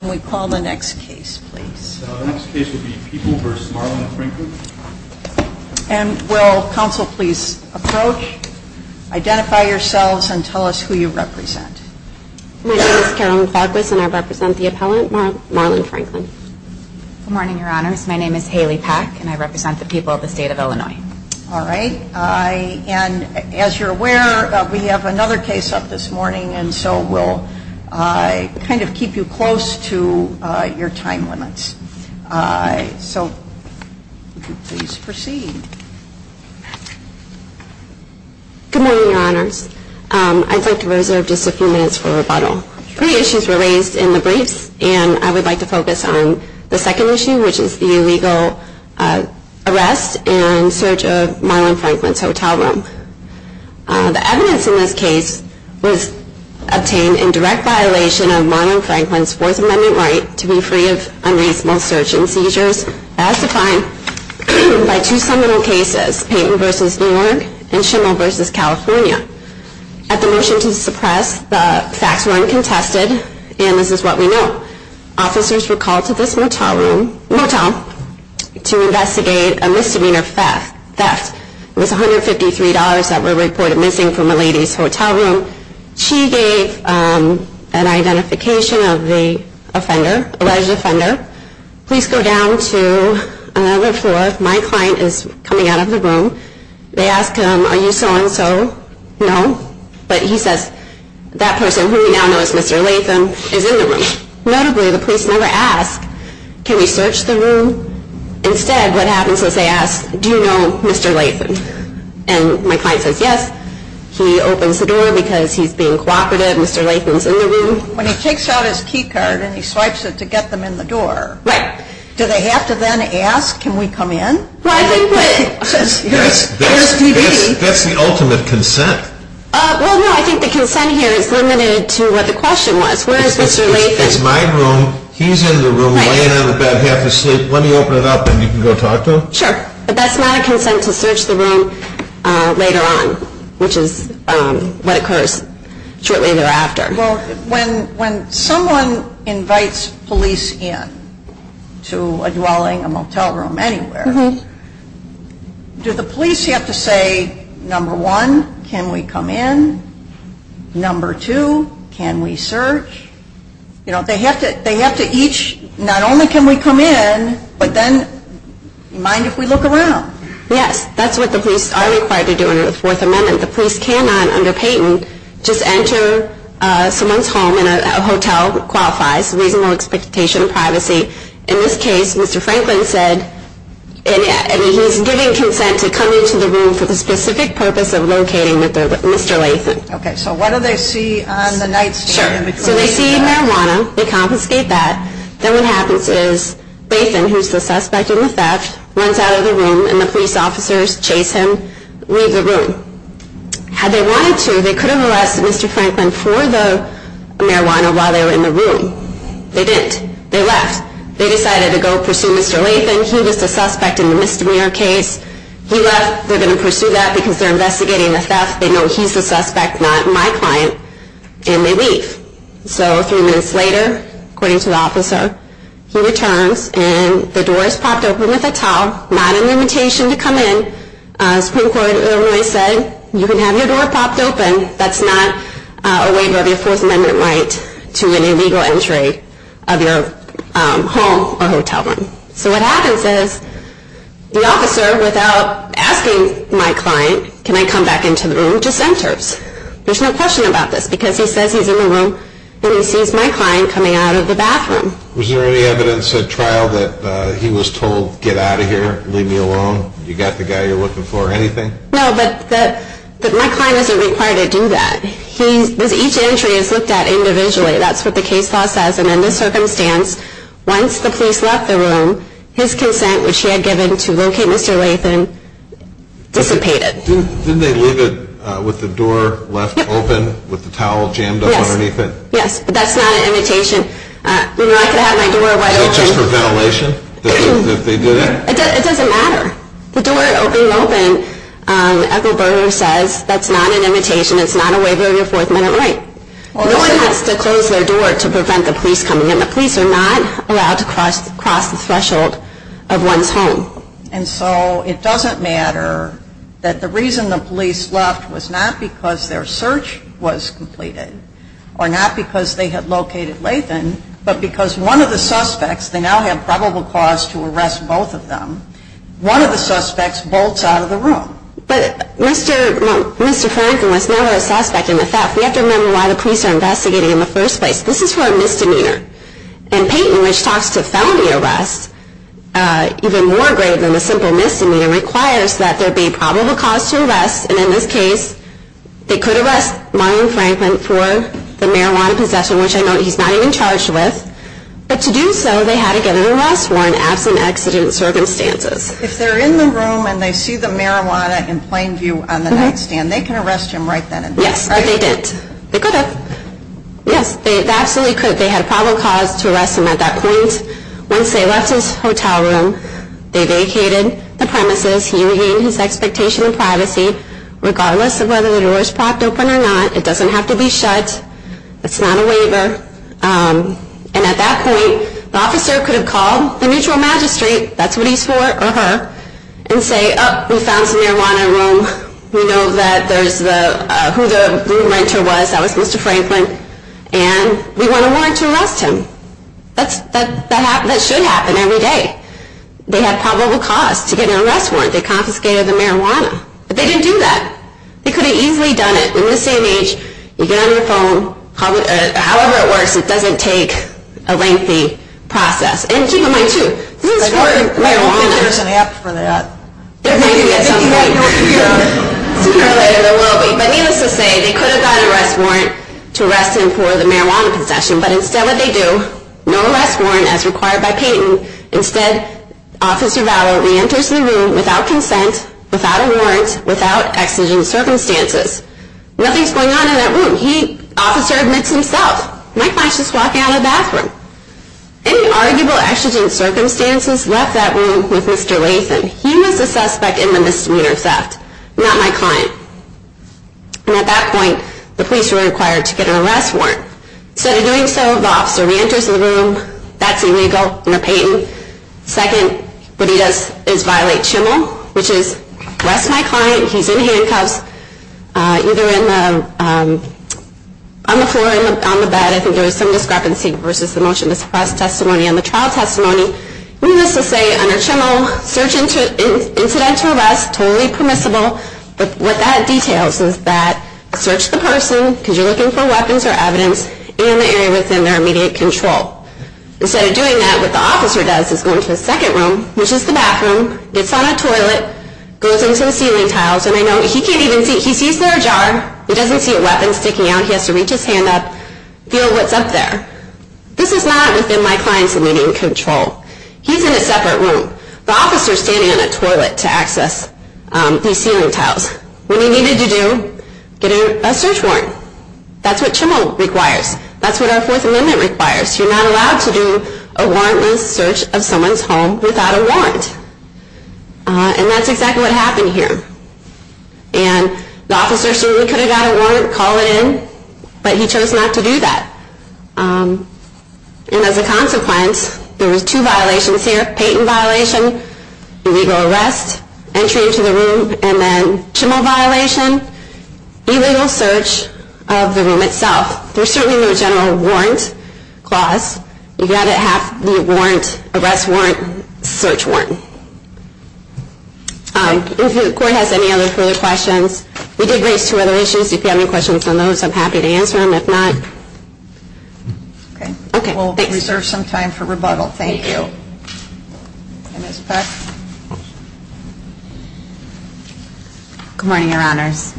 Can we call the next case, please? The next case will be People v. Marlon Franklin. And will counsel please approach, identify yourselves, and tell us who you represent. My name is Carolyn Farquist, and I represent the appellant, Marlon Franklin. Good morning, Your Honors. My name is Haley Pack, and I represent the people of the state of Illinois. All right. And as you're aware, we have another case up this morning, and so we'll kind of keep you close to your time limits. So if you could please proceed. Good morning, Your Honors. I'd like to reserve just a few minutes for rebuttal. Three issues were raised in the briefs, and I would like to focus on the second issue, which is the illegal arrest and search of Marlon Franklin's hotel room. The evidence in this case was obtained in direct violation of Marlon Franklin's Fourth Amendment right to be free of unreasonable search and seizures as defined by two seminal cases, Payton v. New York and Schimel v. California. At the motion to suppress, the facts were uncontested, and this is what we know. Officers were called to this motel to investigate a misdemeanor theft. It was $153 that were reported missing from a lady's hotel room. She gave an identification of the offender, alleged offender. Please go down to another floor. My client is coming out of the room. They ask him, Are you so-and-so? No. But he says, That person, who we now know as Mr. Latham, is in the room. Notably, the police never ask, Can we search the room? Instead, what happens is they ask, Do you know Mr. Latham? And my client says, Yes. He opens the door because he's being cooperative. Mr. Latham's in the room. When he takes out his key card and he swipes it to get them in the door, do they have to then ask, Can we come in? Well, I think that's the ultimate consent. Well, no, I think the consent here is limited to what the question was. Where is Mr. Latham? If it's my room, he's in the room, laying on the bed, half asleep, let me open it up and you can go talk to him? Sure. But that's not a consent to search the room later on, which is what occurs shortly thereafter. Well, when someone invites police in to a dwelling, a motel room, anywhere, do the police have to say, Number one, can we come in? Number two, can we search? They have to each, not only can we come in, but then, mind if we look around? Yes, that's what the police are required to do under the Fourth Amendment. The police cannot, under patent, just enter someone's home in a hotel, which qualifies reasonable expectation of privacy. In this case, Mr. Franklin said, he's giving consent to come into the room for the specific purpose of locating Mr. Latham. Okay, so what do they see on the nightstand? Sure, so they see marijuana, they confiscate that, then what happens is Latham, who's the suspect in the theft, runs out of the room and the police officers chase him, leave the room. Had they wanted to, they could have arrested Mr. Franklin for the marijuana while they were in the room. They didn't. They left. They decided to go pursue Mr. Latham. He was the suspect in the misdemeanor case. He left. They're going to pursue that because they're investigating the theft. They know he's the suspect, not my client, and they leave. So three minutes later, according to the officer, he returns, and the door is popped open with a towel, not an invitation to come in. Supreme Court of Illinois said, you can have your door popped open. That's not a waiver of your First Amendment right to an illegal entry of your home or hotel room. So what happens is the officer, without asking my client, can I come back into the room, just enters. There's no question about this because he says he's in the room, but he sees my client coming out of the bathroom. Was there any evidence at trial that he was told, get out of here, leave me alone, you got the guy you're looking for, anything? No, but my client isn't required to do that. Each entry is looked at individually. That's what the case law says, and in this circumstance, once the police left the room, his consent, which he had given to locate Mr. Latham, dissipated. Didn't they leave it with the door left open with the towel jammed up underneath it? Yes, but that's not an invitation. I could have my door wide open. Is it just for ventilation that they did it? It doesn't matter. The door being open, Ethel Berger says that's not an invitation, it's not a waiver of your fourth minute right. No one has to close their door to prevent the police coming in. The police are not allowed to cross the threshold of one's home. And so it doesn't matter that the reason the police left was not because their search was completed or not because they had located Latham, but because one of the suspects, they now have probable cause to arrest both of them. One of the suspects bolts out of the room. But Mr. Franklin was never a suspect in the theft. We have to remember why the police are investigating in the first place. This is for a misdemeanor. And Peyton, which talks to felony arrest even more grave than a simple misdemeanor, requires that there be probable cause to arrest, and in this case, they could arrest Marion Franklin for the marijuana possession, which I note he's not even charged with. But to do so, they had to get an arrest warrant absent accident circumstances. If they're in the room and they see the marijuana in plain view on the nightstand, they can arrest him right then and there, right? Yes, they did. They could have. Yes, they absolutely could. They had probable cause to arrest him at that point. Once they left his hotel room, they vacated the premises. He regained his expectation of privacy. Regardless of whether the door is propped open or not, it doesn't have to be shut. It's not a waiver. And at that point, the officer could have called the mutual magistrate, that's what he's for, or her, and say, Oh, we found some marijuana in the room. We know who the room renter was. That was Mr. Franklin. And we want a warrant to arrest him. That should happen every day. They had probable cause to get an arrest warrant. They confiscated the marijuana. But they didn't do that. They could have easily done it in the same age. You get on your phone. However it works, it doesn't take a lengthy process. And keep in mind, too, this is for marijuana. I don't think there's an app for that. There may be at some point. There will be. But needless to say, they could have got an arrest warrant to arrest him for the marijuana possession. But instead what they do, no arrest warrant as required by Peyton. Instead, Officer Vallow reenters the room without consent, without a warrant, without exigent circumstances. Nothing's going on in that room. He, Officer, admits himself. My client's just walking out of the bathroom. Any arguable exigent circumstances left that room with Mr. Latham. He was the suspect in the misdemeanor theft, not my client. And at that point, the police were required to get an arrest warrant. Instead of doing so, the officer reenters the room. That's illegal under Peyton. Second, what he does is violate CHML, which is arrest my client. He's in handcuffs, either on the floor or on the bed. I think there was some discrepancy versus the motion to suppress testimony on the trial testimony. Needless to say, under CHML, search incident to arrest, totally permissible. But what that details is that search the person, because you're looking for weapons or evidence, and the area within their immediate control. Instead of doing that, what the officer does is go into the second room, which is the bathroom, gets on a toilet, goes into the ceiling tiles, and I know he can't even see. He sees their jar. He doesn't see a weapon sticking out. He has to reach his hand up, feel what's up there. This is not within my client's immediate control. He's in a separate room. The officer's standing on a toilet to access these ceiling tiles. What he needed to do, get a search warrant. That's what CHML requires. That's what our Fourth Amendment requires. You're not allowed to do a warrantless search of someone's home without a warrant. And that's exactly what happened here. And the officer surely could have got a warrant, called it in, but he chose not to do that. And as a consequence, there was two violations here. Payton violation, illegal arrest, entry into the room, and then CHML violation, illegal search of the room itself. There's certainly no general warrant clause. You've got to have the warrant, arrest warrant, search warrant. If the court has any other further questions, we did raise two other issues. If you have any questions on those, I'm happy to answer them. If not, okay. We'll reserve some time for rebuttal. Thank you. Ms. Peck? Good morning, Your Honors.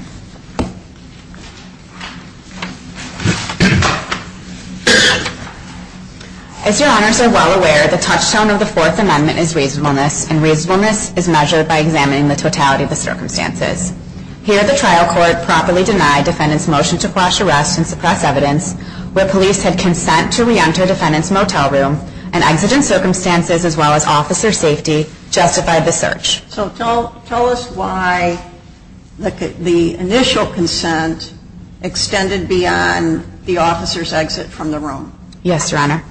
As Your Honors are well aware, the touchstone of the Fourth Amendment is reasonableness, and reasonableness is measured by examining the totality of the circumstances. Here, the trial court properly denied defendants' motion to quash arrest and suppress evidence, where police had consent to reenter defendants' motel room, and exigent circumstances, as well as officer safety, justified the search. So tell us why the initial consent extended beyond the officer's exit from the room. Yes, Your Honor.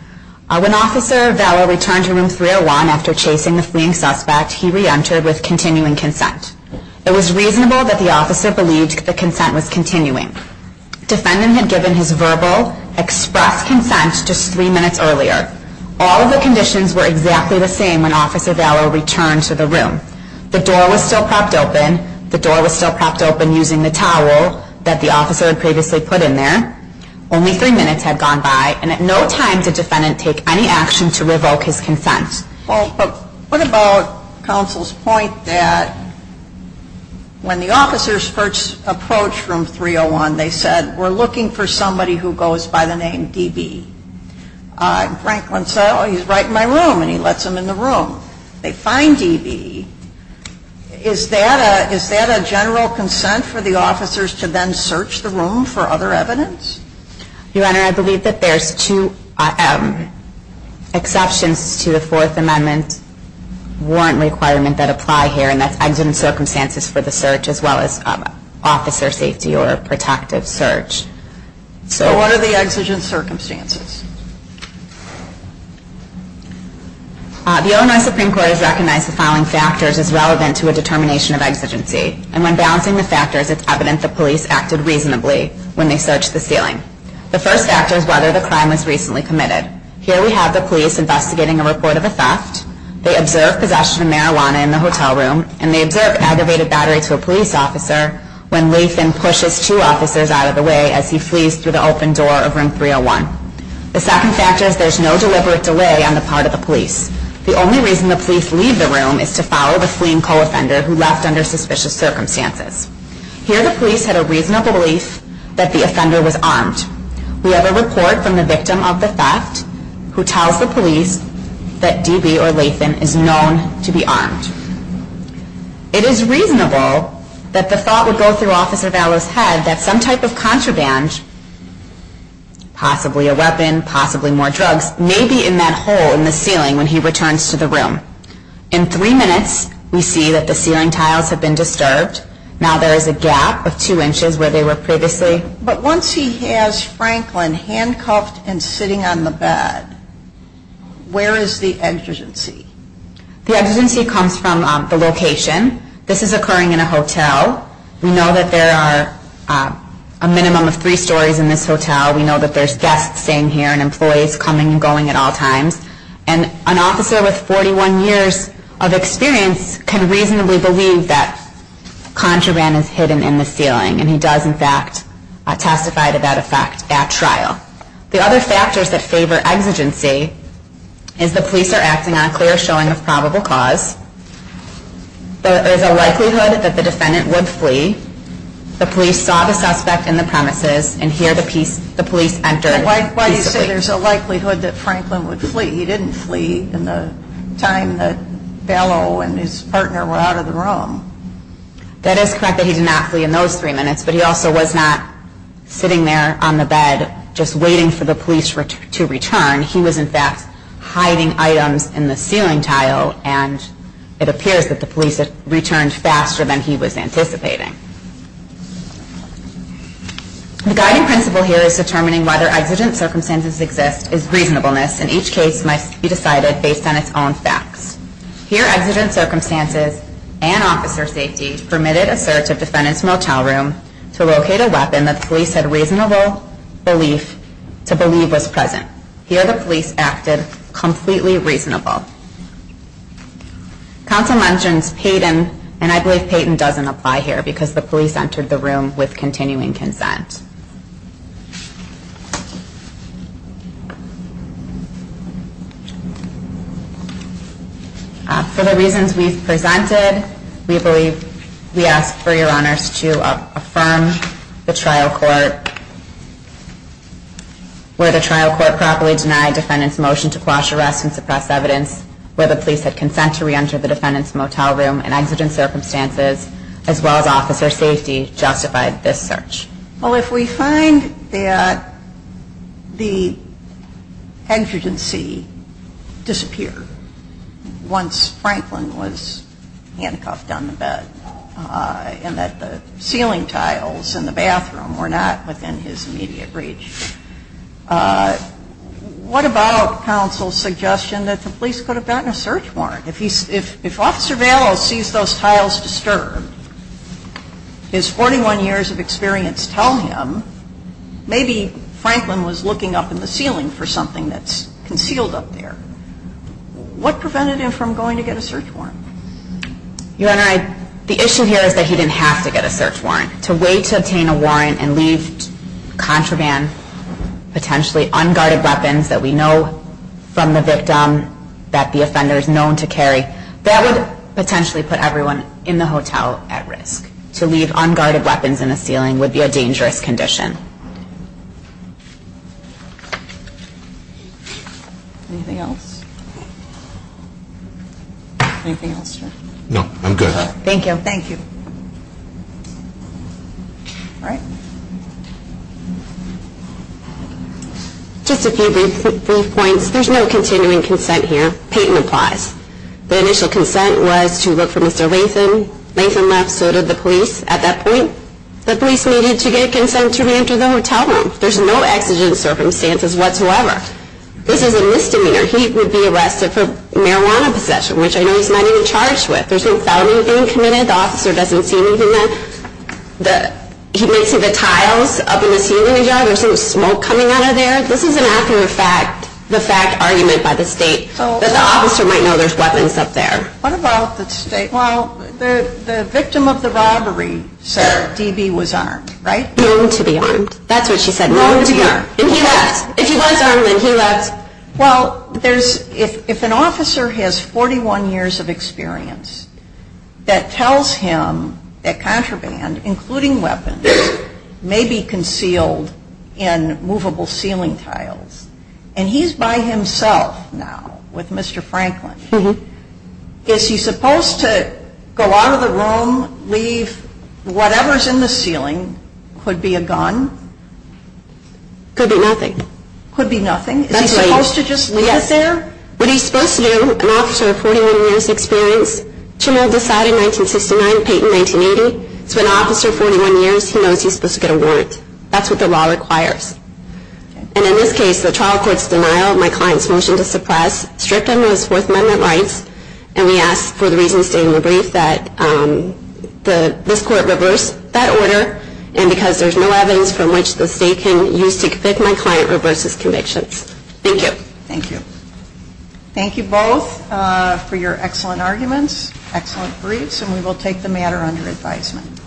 When Officer Vallow returned to Room 301 after chasing the fleeing suspect, he reentered with continuing consent. It was reasonable that the officer believed the consent was continuing. Defendant had given his verbal, expressed consent just three minutes earlier. All of the conditions were exactly the same when Officer Vallow returned to the room. The door was still propped open. The door was still propped open using the towel that the officer had previously put in there. Only three minutes had gone by, and at no time did defendant take any action to revoke his consent. Well, but what about counsel's point that when the officers first approached Room 301, they said, we're looking for somebody who goes by the name D.B. Franklin said, oh, he's right in my room, and he lets him in the room. They find D.B. Is that a general consent for the officers to then search the room for other evidence? Your Honor, I believe that there's two exceptions to the Fourth Amendment warrant requirement that apply here, and that's exigent circumstances for the search as well as officer safety or protective search. So what are the exigent circumstances? The Illinois Supreme Court has recognized the following factors as relevant to a determination of exigency, and when balancing the factors, it's evident the police acted reasonably when they searched the ceiling. The first factor is whether the crime was recently committed. Here we have the police investigating a report of a theft. They observed possession of marijuana in the hotel room, and they observed aggravated battery to a police officer when Lathan pushes two officers out of the way as he flees through the open door of Room 301. The second factor is there's no deliberate delay on the part of the police. The only reason the police leave the room is to follow the fleeing co-offender who left under suspicious circumstances. Here the police had a reasonable belief that the offender was armed. We have a report from the victim of the theft who tells the police that D.B. or Lathan is known to be armed. It is reasonable that the thought would go through Officer Vallow's head that some type of contraband, possibly a weapon, possibly more drugs, may be in that hole in the ceiling when he returns to the room. In three minutes, we see that the ceiling tiles have been disturbed. Now there is a gap of two inches where they were previously. But once he has Franklin handcuffed and sitting on the bed, where is the exigency? The exigency comes from the location. This is occurring in a hotel. We know that there are a minimum of three stories in this hotel. We know that there are guests staying here and employees coming and going at all times. An officer with 41 years of experience can reasonably believe that contraband is hidden in the ceiling. And he does, in fact, testify to that effect at trial. The other factors that favor exigency is the police are acting on clear showing of probable cause. There is a likelihood that the defendant would flee. The police saw the suspect in the premises and here the police entered. Why do you say there is a likelihood that Franklin would flee? He didn't flee in the time that Vallow and his partner were out of the room. That is correct that he did not flee in those three minutes. But he also was not sitting there on the bed just waiting for the police to return. He was, in fact, hiding items in the ceiling tile and it appears that the police returned faster than he was anticipating. The guiding principle here is determining whether exigent circumstances exist is reasonableness and each case must be decided based on its own facts. Here exigent circumstances and officer safety permitted a search of defendant's motel room to locate a weapon that the police had a reasonable belief to believe was present. Here the police acted completely reasonable. Counsel mentions Payton and I believe Payton doesn't apply here because the police entered the room with continuing consent. For the reasons we've presented, we believe we ask for your honors to affirm the trial court where the trial court properly denied defendant's motion to quash arrest and suppress evidence where the police had consent to reenter the defendant's motel room and exigent circumstances as well as officer safety justified this search. Well, if we find that the exigency disappeared once Franklin was handcuffed down the bed and that the ceiling tiles in the bathroom were not within his immediate reach, what about counsel's suggestion that the police could have gotten a search warrant? If officer Valos sees those tiles disturbed, his 41 years of experience tell him maybe Franklin was looking up in the ceiling for something that's concealed up there. What prevented him from going to get a search warrant? Your honor, the issue here is that he didn't have to get a search warrant. To wait to obtain a warrant and leave contraband, potentially unguarded weapons that we know from the victim that the offender is known to carry, that would potentially put everyone in the hotel at risk. To leave unguarded weapons in the ceiling would be a dangerous condition. Thank you. Anything else? Anything else, sir? No, I'm good. Thank you. All right. Just a few brief points. There's no continuing consent here. Payton applies. The initial consent was to look for Mr. Latham. Latham left, so did the police at that point. The police needed to get consent to reenter the hotel room. There's no exigent circumstances whatsoever. This is a misdemeanor. He would be arrested for marijuana possession, which I know he's not even charged with. There's no founding being committed. The officer doesn't see anything. He may see the tiles up in the ceiling. There's smoke coming out of there. This is an accurate fact, the fact argument by the state, that the officer might know there's weapons up there. What about the state? Well, the victim of the robbery, sir, DB, was armed, right? Known to be armed. That's what she said, known to be armed. And he left. If he was armed, then he left. Well, if an officer has 41 years of experience that tells him that contraband, including weapons, may be concealed in movable ceiling tiles, and he's by himself now with Mr. Franklin, is he supposed to go out of the room, leave whatever's in the ceiling, could be a gun? Could be nothing. Could be nothing? That's right. Is he supposed to just leave it there? Yes. What he's supposed to do, an officer of 41 years experience, Chimmel decided in 1969, Payton in 1980, so an officer of 41 years, he knows he's supposed to get a warrant. That's what the law requires. And in this case, the trial court's denial, my client's motion to suppress, stripped him of his Fourth Amendment rights, and we ask for the reason stated in the brief, that this court reverse that order, and because there's no evidence from which the state can use to convict my client, reverses convictions. Thank you. Thank you. Thank you both for your excellent arguments, excellent briefs, and we will take the matter under advisement.